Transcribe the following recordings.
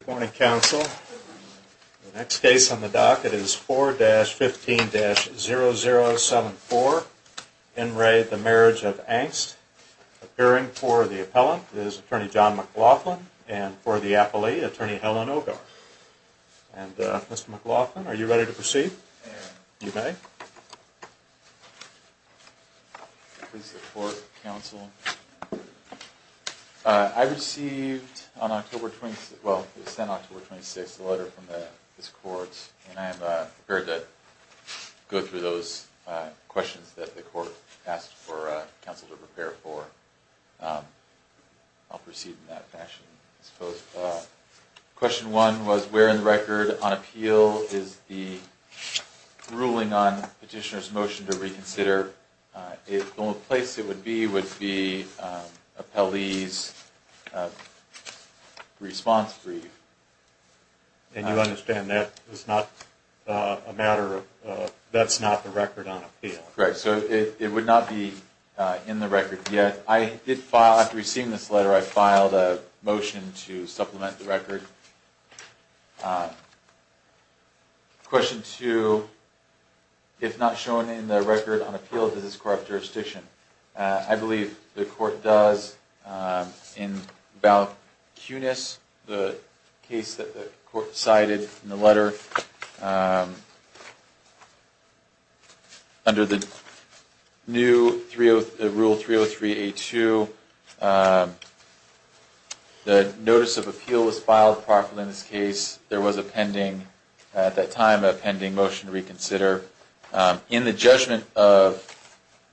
Good morning, Counsel. The next case on the docket is 4-15-0074, En Re. The Marriage of Engst. Appearing for the appellant is Attorney John McLaughlin and for the appellee, Attorney Helen Ogar. And Mr. McLaughlin, are you ready to proceed? You may. Please support, Counsel. I received on October 26th, well it was sent October 26th, a letter from this court. And I am prepared to go through those questions that the court asked for Counsel to prepare for. I'll proceed in that fashion. Question one was where in the record on appeal is the ruling on petitioner's motion to reconsider. The only place it would be would be appellee's response brief. And you understand that is not a matter of, that's not the record on appeal. Correct. So it would not be in the record yet. I did file, after receiving this letter, I filed a motion to supplement the record. Question two, if not shown in the record on appeal, does this corrupt jurisdiction. I believe the court does. In Val Kunis, the case that the court cited in the letter, under the new rule 303A2, the notice of appeal was filed properly in this case. There was a pending, at that time, a pending motion to reconsider. In the judgment of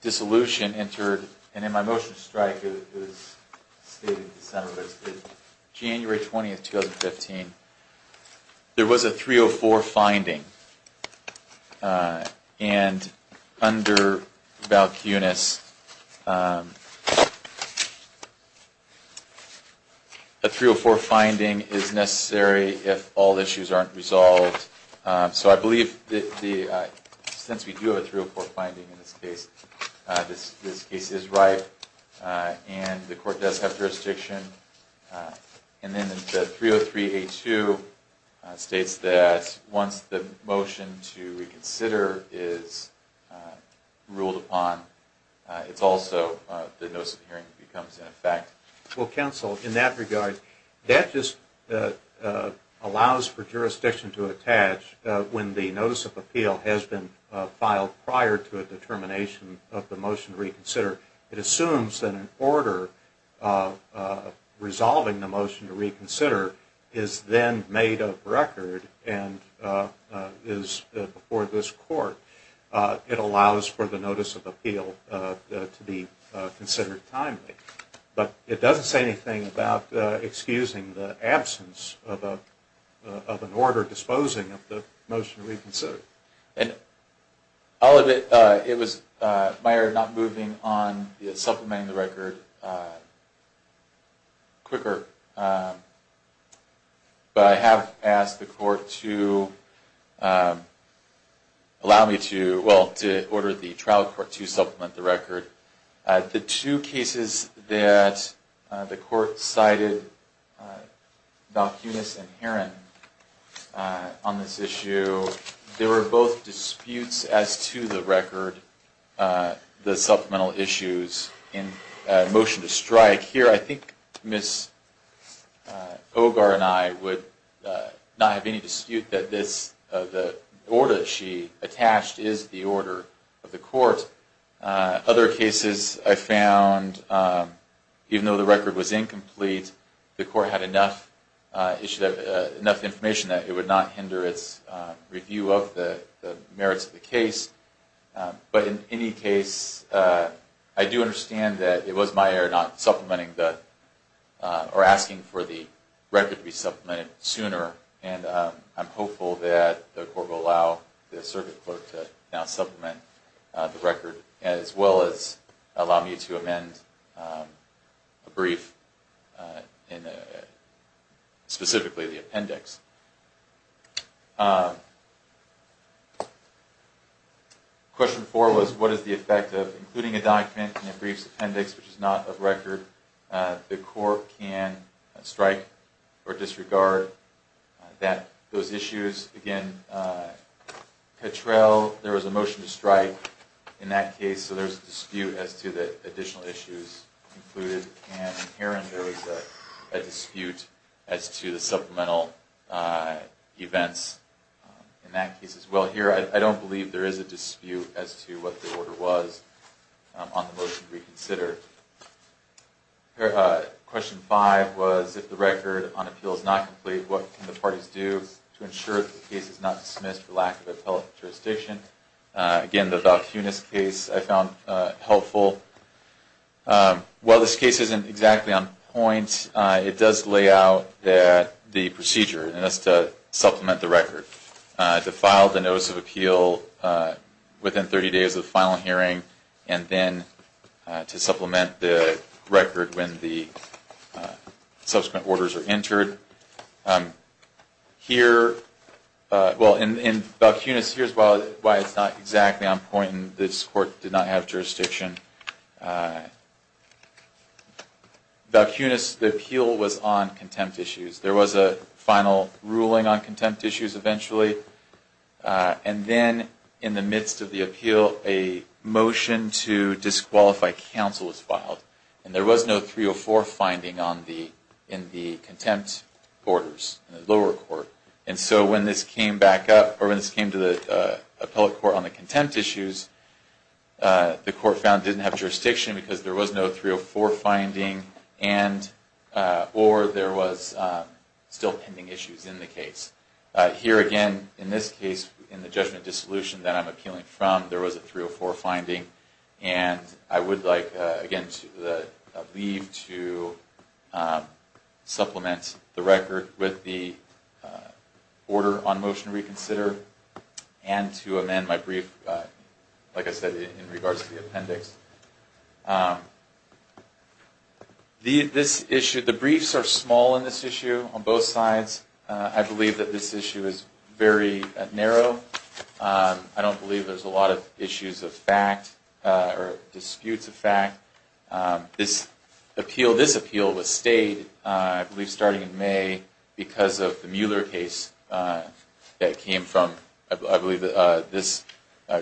dissolution entered, and in my motion to strike, it was stated in December, but it's January 20th, 2015, there was a 304 finding. And under Val Kunis, a 304 finding is necessary if all issues aren't resolved. So I believe, since we do have a 304 finding in this case, this case is right, and the court does have jurisdiction. And then the 303A2 states that once the motion to reconsider is ruled upon, it's also, the notice of hearing becomes in effect. Well, counsel, in that regard, that just allows for jurisdiction to attach when the notice of appeal has been filed prior to a determination of the motion to reconsider. It assumes that an order resolving the motion to reconsider is then made of record and is before this court. It allows for the notice of appeal to be considered timely. But it doesn't say anything about excusing the absence of an order disposing of the motion to reconsider. And all of it, it was my error not moving on supplementing the record quicker. But I have asked the court to allow me to, well, to order the trial court to supplement the record. The two cases that the court cited, Val Kunis and Herron, on this issue, they were both disputes as to the record, the supplemental issues in motion to strike. Here, I think Ms. Ogar and I would not have any dispute that the order she attached is the order of the court. Other cases I found, even though the record was incomplete, the court had enough information that it would not hinder its review of the merits of the case. But in any case, I do understand that it was my error not supplementing or asking for the record to be supplemented sooner. And I'm hopeful that the court will allow the circuit clerk to now supplement the record, as well as allow me to amend a brief, specifically the appendix. Question four was, what is the effect of including a document in a brief's appendix which is not of record? The court can strike or disregard those issues. Again, Petrel, there was a motion to strike in that case, so there's a dispute as to the additional issues included. And in Herron, there was a dispute as to the supplemental events in that case, as well. So in general here, I don't believe there is a dispute as to what the order was on the motion to reconsider. Question five was, if the record on appeal is not complete, what can the parties do to ensure that the case is not dismissed for lack of appellate jurisdiction? Again, the Valchunis case I found helpful. While this case isn't exactly on point, it does lay out the procedure, and that's to supplement the record, to file the notice of appeal within 30 days of the final hearing, and then to supplement the record when the subsequent orders are entered. Here, well, in Valchunis, here's why it's not exactly on point, and this court did not have jurisdiction. Valchunis, the appeal was on contempt issues. There was a final ruling on contempt issues eventually, and then in the midst of the appeal, a motion to disqualify counsel was filed. And there was no 304 finding in the contempt orders in the lower court. And so when this came back up, or when this came to the appellate court on the contempt issues, the court found it didn't have jurisdiction because there was no 304 finding, or there was still pending issues in the case. Here again, in this case, in the judgment of dissolution that I'm appealing from, there was a 304 finding, and I would like, again, to leave to supplement the record with the order on motion to reconsider, and to amend my brief, like I said, in regards to the appendix. This issue, the briefs are small in this issue on both sides. I believe that this issue is very narrow. I don't believe there's a lot of issues of fact, or disputes of fact. This appeal was stayed, I believe, starting in May because of the Mueller case that came from, I believe, this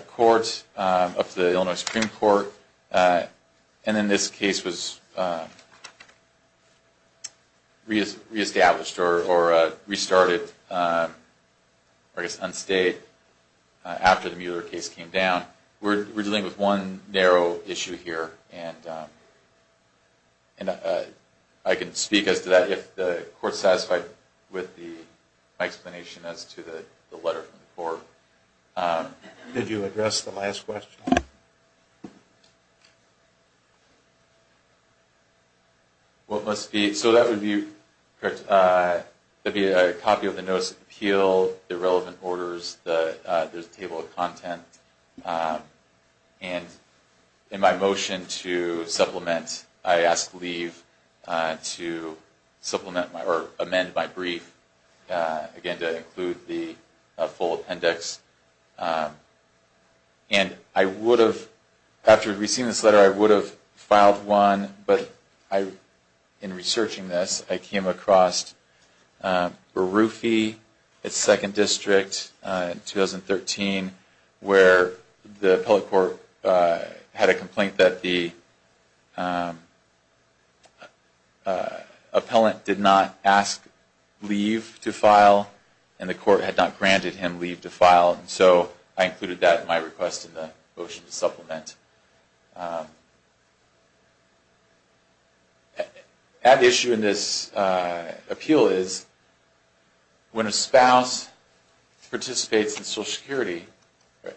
court, up to the Illinois Supreme Court. And then this case was reestablished, or restarted, or I guess unstayed, after the Mueller case came down. We're dealing with one narrow issue here, and I can speak as to that if the court's satisfied with my explanation as to the letter from the court. Did you address the last question? What must be—so that would be a copy of the notice of appeal, the relevant orders, there's a table of content. And in my motion to supplement, I ask leave to supplement or amend my brief, again, to include the full appendix. And I would have, after receiving this letter, I would have filed one, but in researching this, I came across Berufi, its second district, in 2013, where the appellate court had a complaint that the appellant did not ask leave to file, and the court had not granted him leave to file. And so I included that in my request in the motion to supplement. And the issue in this appeal is, when a spouse participates in Social Security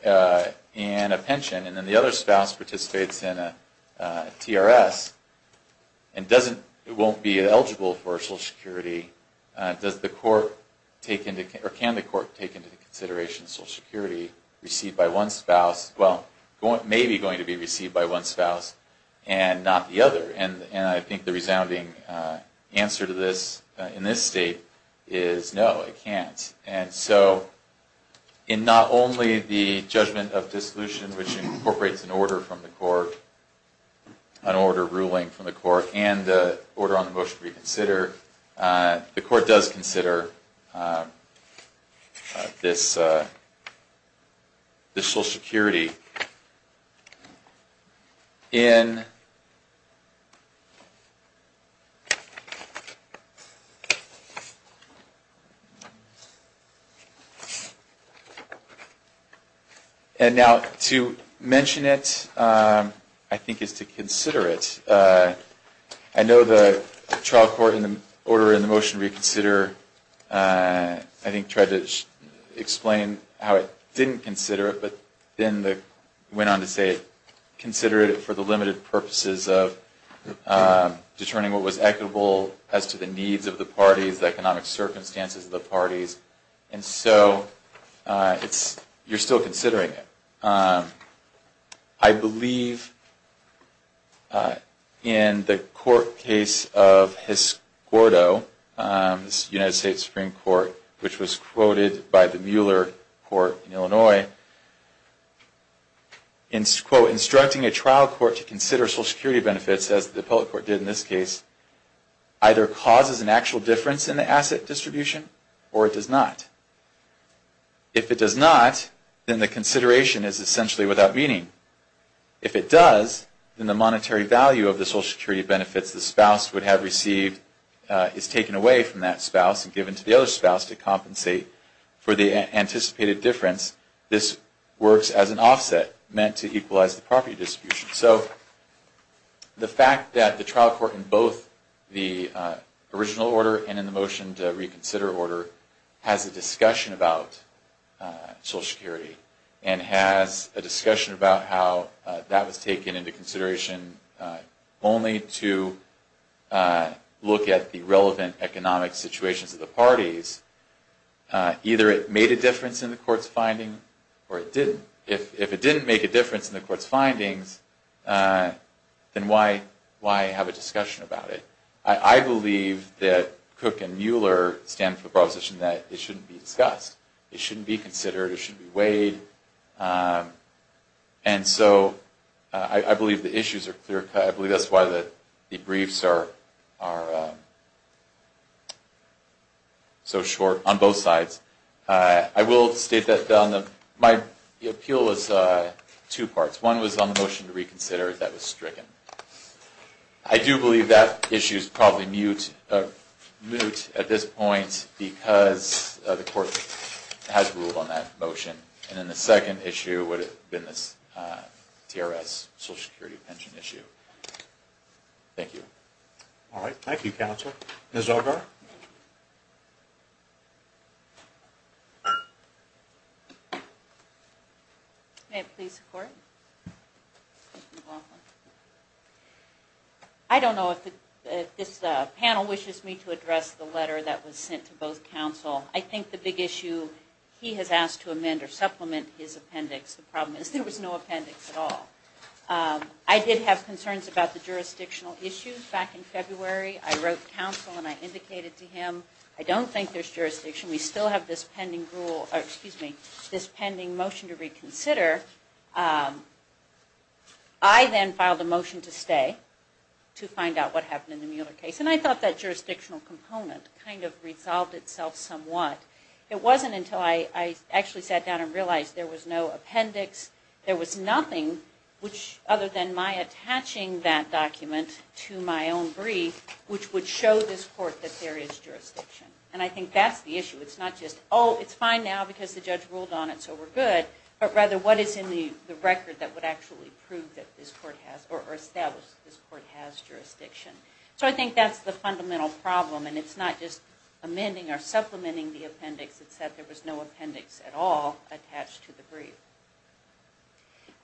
in a pension, and then the other spouse participates in a TRS, and doesn't—won't be eligible for Social Security, does the court take into—or can the court take into consideration Social Security received by one spouse? Well, maybe going to be received by one spouse and not the other. And I think the resounding answer to this in this state is no, it can't. And so, in not only the judgment of dissolution, which incorporates an order from the court, an order ruling from the court, and the order on the motion to reconsider, the court does consider this Social Security. And now, to mention it, I think, is to consider it. I know the trial court in the order in the motion to reconsider, I think, tried to explain how it didn't consider it, but then went on to say, consider it for the limited purposes of determining what was equitable as to the needs of the parties, the economic circumstances of the parties. And so, it's—you're still considering it. I believe in the court case of Hiscordo, this United States Supreme Court, which was quoted by the Mueller Court in Illinois, quote, instructing a trial court to consider Social Security benefits, as the appellate court did in this case, either causes an actual difference in the asset distribution, or it does not. If it does not, then the consideration is essentially without meaning. If it does, then the monetary value of the Social Security benefits the spouse would have received is taken away from that spouse and given to the other spouse to compensate for the anticipated difference. This works as an offset, meant to equalize the property distribution. So, the fact that the trial court in both the original order and in the motion to reconsider order has a discussion about Social Security and has a discussion about how that was taken into consideration only to look at the relevant economic situations of the parties, either it made a difference in the court's finding or it didn't. If it didn't make a difference in the court's findings, then why have a discussion about it? I believe that Cook and Mueller stand for the proposition that it shouldn't be discussed. It shouldn't be considered. It shouldn't be weighed. And so, I believe the issues are clear-cut. I believe that's why the briefs are so short on both sides. I will state that my appeal was two parts. One was on the motion to reconsider that was stricken. I do believe that issue is probably moot at this point because the court has ruled on that motion. And then the second issue would have been this TRS Social Security pension issue. Thank you. All right. Thank you, counsel. Ms. Algar? May I please report? You're welcome. I don't know if this panel wishes me to address the letter that was sent to both counsel. I think the big issue he has asked to amend or supplement his appendix. The problem is there was no appendix at all. I did have concerns about the jurisdictional issues back in February. I wrote counsel and I indicated to him I don't think there's jurisdiction. We still have this pending motion to reconsider. I then filed a motion to stay to find out what happened in the Mueller case. And I thought that jurisdictional component kind of resolved itself somewhat. It wasn't until I actually sat down and realized there was no appendix. There was nothing other than my attaching that document to my own brief, which would show this court that there is jurisdiction. And I think that's the issue. It's not just, oh, it's fine now because the judge ruled on it, so we're good. But rather what is in the record that would actually prove that this court has or establish that this court has jurisdiction. So I think that's the fundamental problem. And it's not just amending or supplementing the appendix. It's that there was no appendix at all attached to the brief.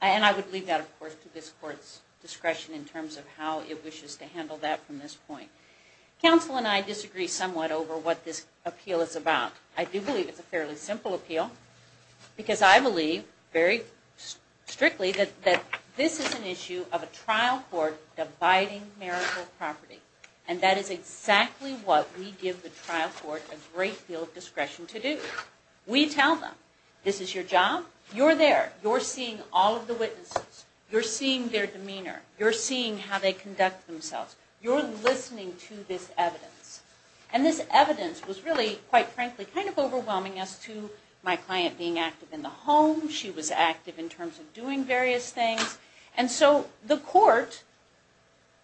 And I would leave that, of course, to this court's discretion in terms of how it wishes to handle that from this point. Counsel and I disagree somewhat over what this appeal is about. I do believe it's a fairly simple appeal because I believe very strictly that this is an issue of a trial court dividing marital property. And that is exactly what we give the trial court a great deal of discretion to do. We tell them, this is your job. You're there. You're seeing all of the witnesses. You're seeing their demeanor. You're seeing how they conduct themselves. You're listening to this evidence. And this evidence was really, quite frankly, kind of overwhelming as to my client being active in the home. She was active in terms of doing various things. And so the court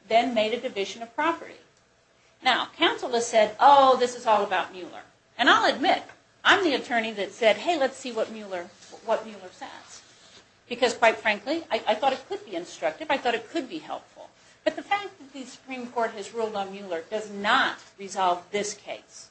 then made a division of property. Now, counsel has said, oh, this is all about Mueller. And I'll admit, I'm the attorney that said, hey, let's see what Mueller says. Because, quite frankly, I thought it could be instructive. I thought it could be helpful. But the fact that the Supreme Court has ruled on Mueller does not resolve this case.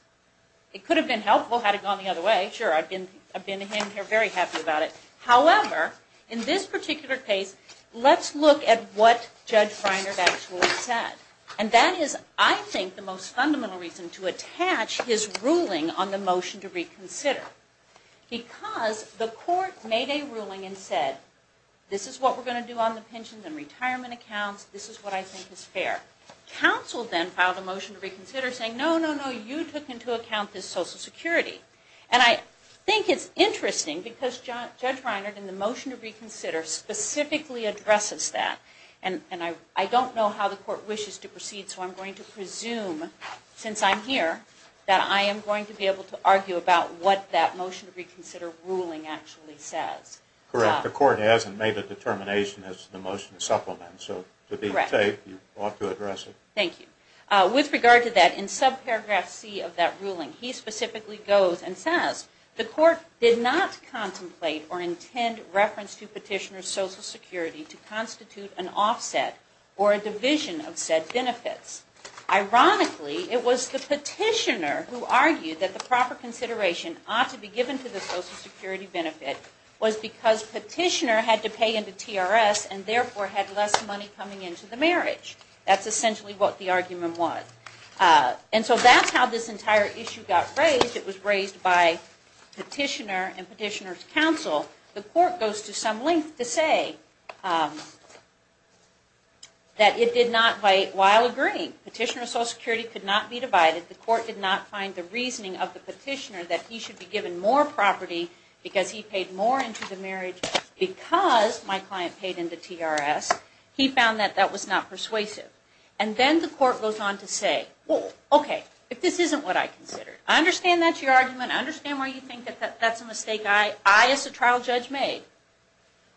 It could have been helpful had it gone the other way. Sure, I've been in here very happy about it. However, in this particular case, let's look at what Judge Reiner actually said. And that is, I think, the most fundamental reason to attach his ruling on the motion to reconsider. Because the court made a ruling and said, this is what we're going to do on the pensions and retirement accounts. This is what I think is fair. Counsel then filed a motion to reconsider saying, no, no, no. You took into account this Social Security. And I think it's interesting. Because Judge Reiner, in the motion to reconsider, specifically addresses that. And I don't know how the court wishes to proceed. So I'm going to presume, since I'm here, that I am going to be able to argue about what that motion to reconsider ruling actually says. Correct. The court hasn't made a determination as to the motion to supplement. So to be safe, you ought to address it. Thank you. With regard to that, in subparagraph C of that ruling, he specifically goes and says, the court did not contemplate or intend reference to petitioner's Social Security to constitute an offset or a division of said benefits. Ironically, it was the petitioner who argued that the proper consideration ought to be given to the Social Security benefit was because petitioner had to pay into TRS and therefore had less money coming into the marriage. That's essentially what the argument was. And so that's how this entire issue got raised. It was raised by petitioner and petitioner's counsel. The court goes to some length to say that it did not while agreeing. Petitioner's Social Security could not be divided. The court did not find the reasoning of the petitioner that he should be given more property because he paid more into the marriage because my client paid into TRS. He found that that was not persuasive. And then the court goes on to say, well, okay, if this isn't what I considered, I understand that's your argument. I understand why you think that that's a mistake I as a trial judge made.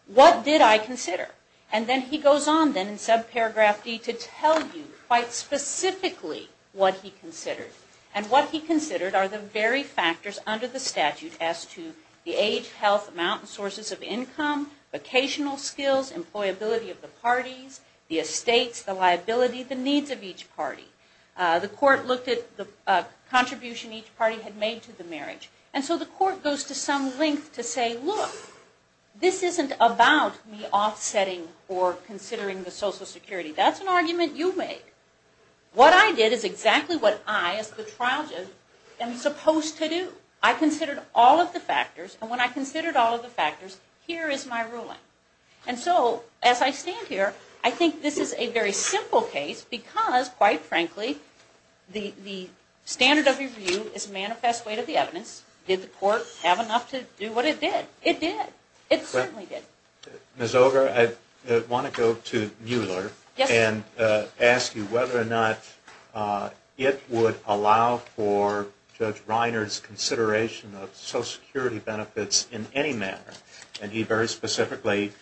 What did I consider? And then he goes on then in subparagraph D to tell you quite specifically what he considered. And what he considered are the very factors under the statute as to the age, health, amount, sources of income, vocational skills, employability of the parties, the estates, the liability, the needs of each party. The court looked at the contribution each party had made to the marriage. And so the court goes to some length to say, look, this isn't about me offsetting or considering the Social Security. That's an argument you made. What I did is exactly what I as the trial judge am supposed to do. I considered all of the factors. And when I considered all of the factors, here is my ruling. And so as I stand here, I think this is a very simple case because, quite frankly, the standard of review is a manifest way to the evidence. Did the court have enough to do what it did? It did. It certainly did. Ms. Oger, I want to go to Mueller and ask you whether or not it would allow for Judge Reiner's consideration of Social Security benefits in any manner. And he very specifically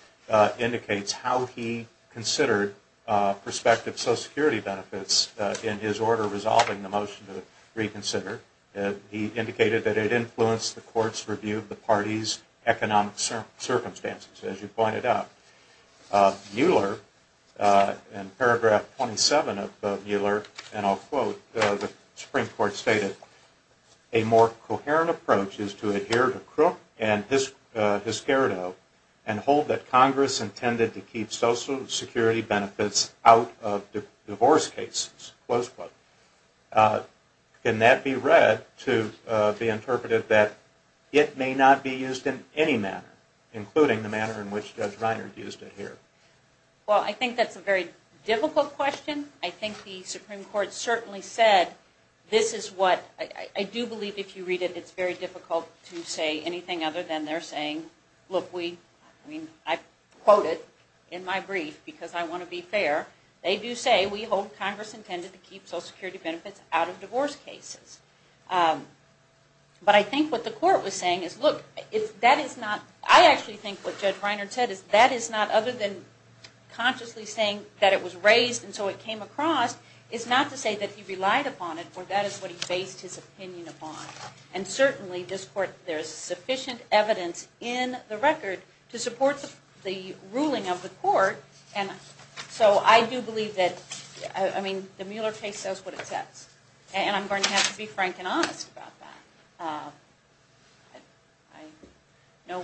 indicates how he considered prospective Social Security benefits in his order resolving the motion to reconsider. He indicated that it influenced the court's review of the party's economic circumstances, as you pointed out. Mueller, in paragraph 27 of Mueller, and I'll quote, the Supreme Court stated, a more coherent approach is to adhere to Crook and Hiscardo and hold that as a just close quote. Can that be read to be interpreted that it may not be used in any manner, including the manner in which Judge Reiner used it here? Well, I think that's a very difficult question. I think the Supreme Court certainly said this is what – I do believe if you read it, it's very difficult to say anything other than they're saying, look, we – I mean, I quote it in my brief because I want to be fair. They do say we hold Congress intended to keep Social Security benefits out of divorce cases. But I think what the court was saying is, look, if that is not – I actually think what Judge Reiner said is that is not other than consciously saying that it was raised and so it came across is not to say that he relied upon it or that is what he based his opinion upon. And certainly this court – there is sufficient evidence in the record to support the ruling of the court. And so I do believe that – I mean, the Mueller case says what it says. And I'm going to have to be frank and honest about that. I know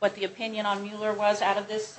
what the opinion on Mueller was out of this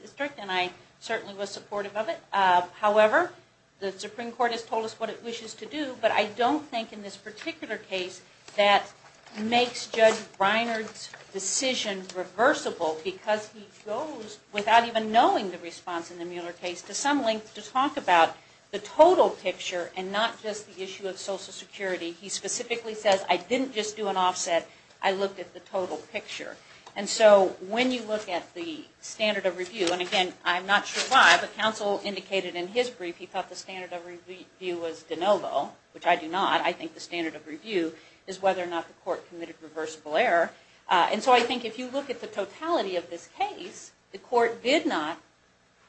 district, and I certainly was supportive of it. However, the Supreme Court has told us what it wishes to do, but I don't think in this particular case that makes Judge Reiner's decision reversible because he goes, without even knowing the response in the Mueller case, to some length to talk about the total picture and not just the issue of Social Security. He specifically says, I didn't just do an offset. I looked at the total picture. And so when you look at the standard of review – and again, I'm not sure why, but counsel indicated in his brief he thought the standard of review was de novo, which I do not. I think the standard of review is whether or not the court committed reversible error. And so I think if you look at the totality of this case, the court did not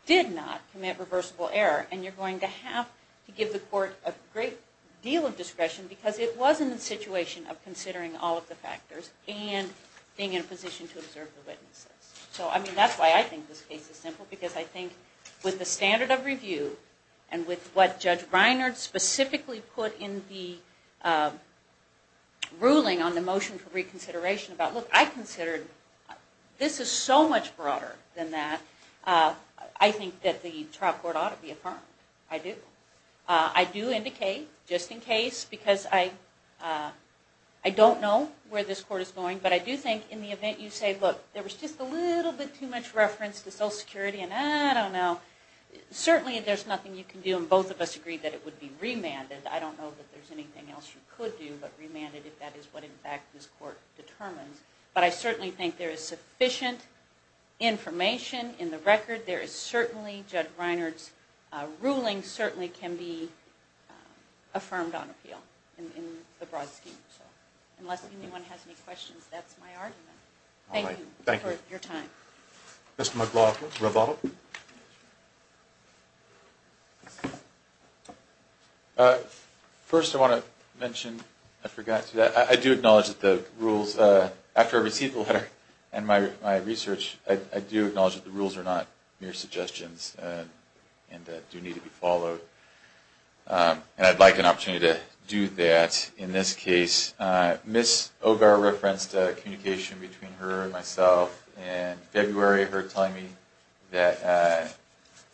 commit reversible error. And you're going to have to give the court a great deal of discretion because it was in the situation of considering all of the factors and being in a position to observe the witnesses. So, I mean, that's why I think this case is simple, because I think with the standard of review and with what Judge Reiner specifically put in the ruling on the motion for reconsideration about, look, I considered this is so much broader than that, I think that the trial court ought to be affirmed. I do. I do indicate, just in case, because I don't know where this court is going, but I do think in the event you say, look, there was just a little bit too much reference to Social Security and I don't know, certainly there's nothing you can do, and both of us agree that it would be remanded. I don't know that there's anything else you could do, but remanded if that is what, in fact, this court determines. But I certainly think there is sufficient information in the record. There is certainly, Judge Reiner's ruling certainly can be affirmed on appeal in the broad scheme. Unless anyone has any questions, that's my argument. Thank you for your time. Mr. McLaughlin, rebuttal. First I want to mention, I forgot to do that, I do acknowledge that the rules, after I received the letter and my research, I do acknowledge that the rules are not mere suggestions and do need to be followed. And I'd like an opportunity to do that in this case. Ms. O'Barra referenced a communication between her and myself in February, her telling me that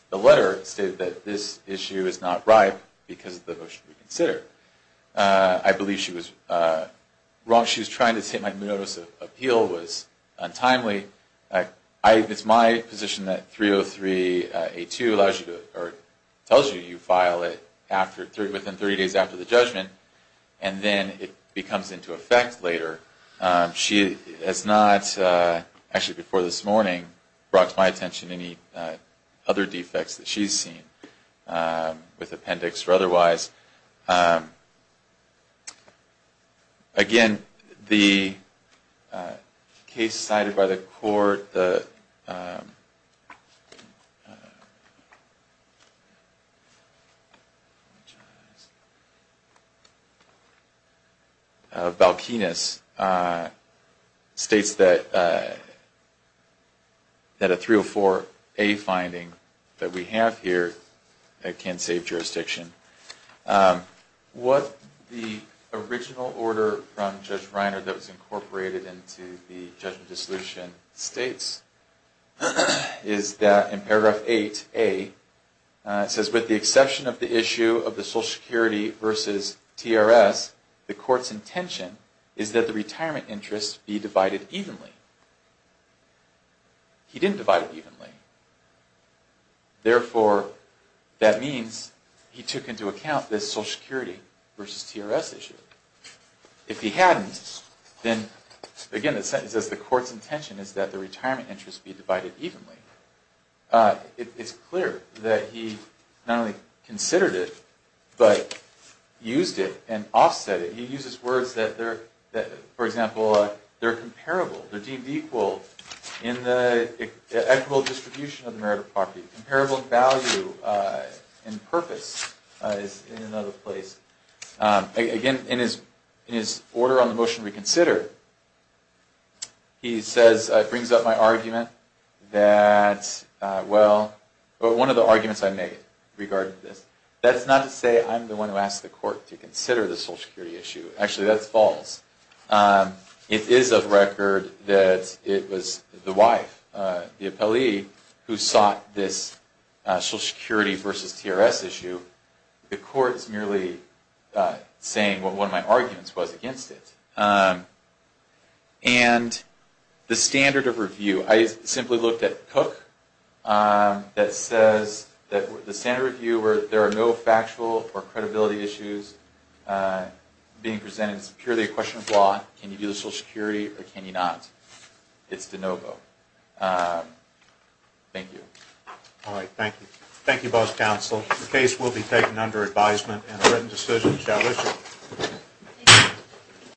the letter stated that this issue is not ripe because of the motion reconsidered. I believe she was wrong. She was trying to say my notice of appeal was untimely. It's my position that 303A2 allows you, or tells you, you file it within 30 days after the judgment, and then it becomes into effect later. She has not, actually before this morning, brought to my attention any other defects that she's seen, with appendix or otherwise. Again, the case cited by the court, the Balkinis, states that a 304A finding that we have here can save jurisdiction. What the original order from Judge Reiner that was incorporated into the judgment dissolution states is that in paragraph 8A, it says, with the exception of the issue of the Social Security versus TRS, the court's intention is that the retirement interest be divided evenly. He didn't divide it evenly. Therefore, that means he took into account the Social Security versus TRS issue. If he hadn't, then, again, the sentence says, the court's intention is that the retirement interest be divided evenly. It's clear that he not only considered it, but used it and offset it. He uses words that, for example, they're comparable. They're deemed equal in the equitable distribution of the merit of property. Comparable value and purpose is in another place. Again, in his order on the motion reconsidered, he brings up my argument that, well, one of the arguments I made regarding this, that's not to say I'm the one who asked the court to consider the Social Security issue. Actually, that's false. It is of record that it was the wife, the appellee, who sought this Social Security versus TRS issue. The court is merely saying what one of my arguments was against it. And the standard of review, I simply looked at Cook, that says that the standard of review where there are no factual or credibility issues, being presented as purely a question of law, can you do the Social Security or can you not? It's de novo. Thank you. All right, thank you. Thank you, both counsel. The case will be taken under advisement and a written decision shall issue.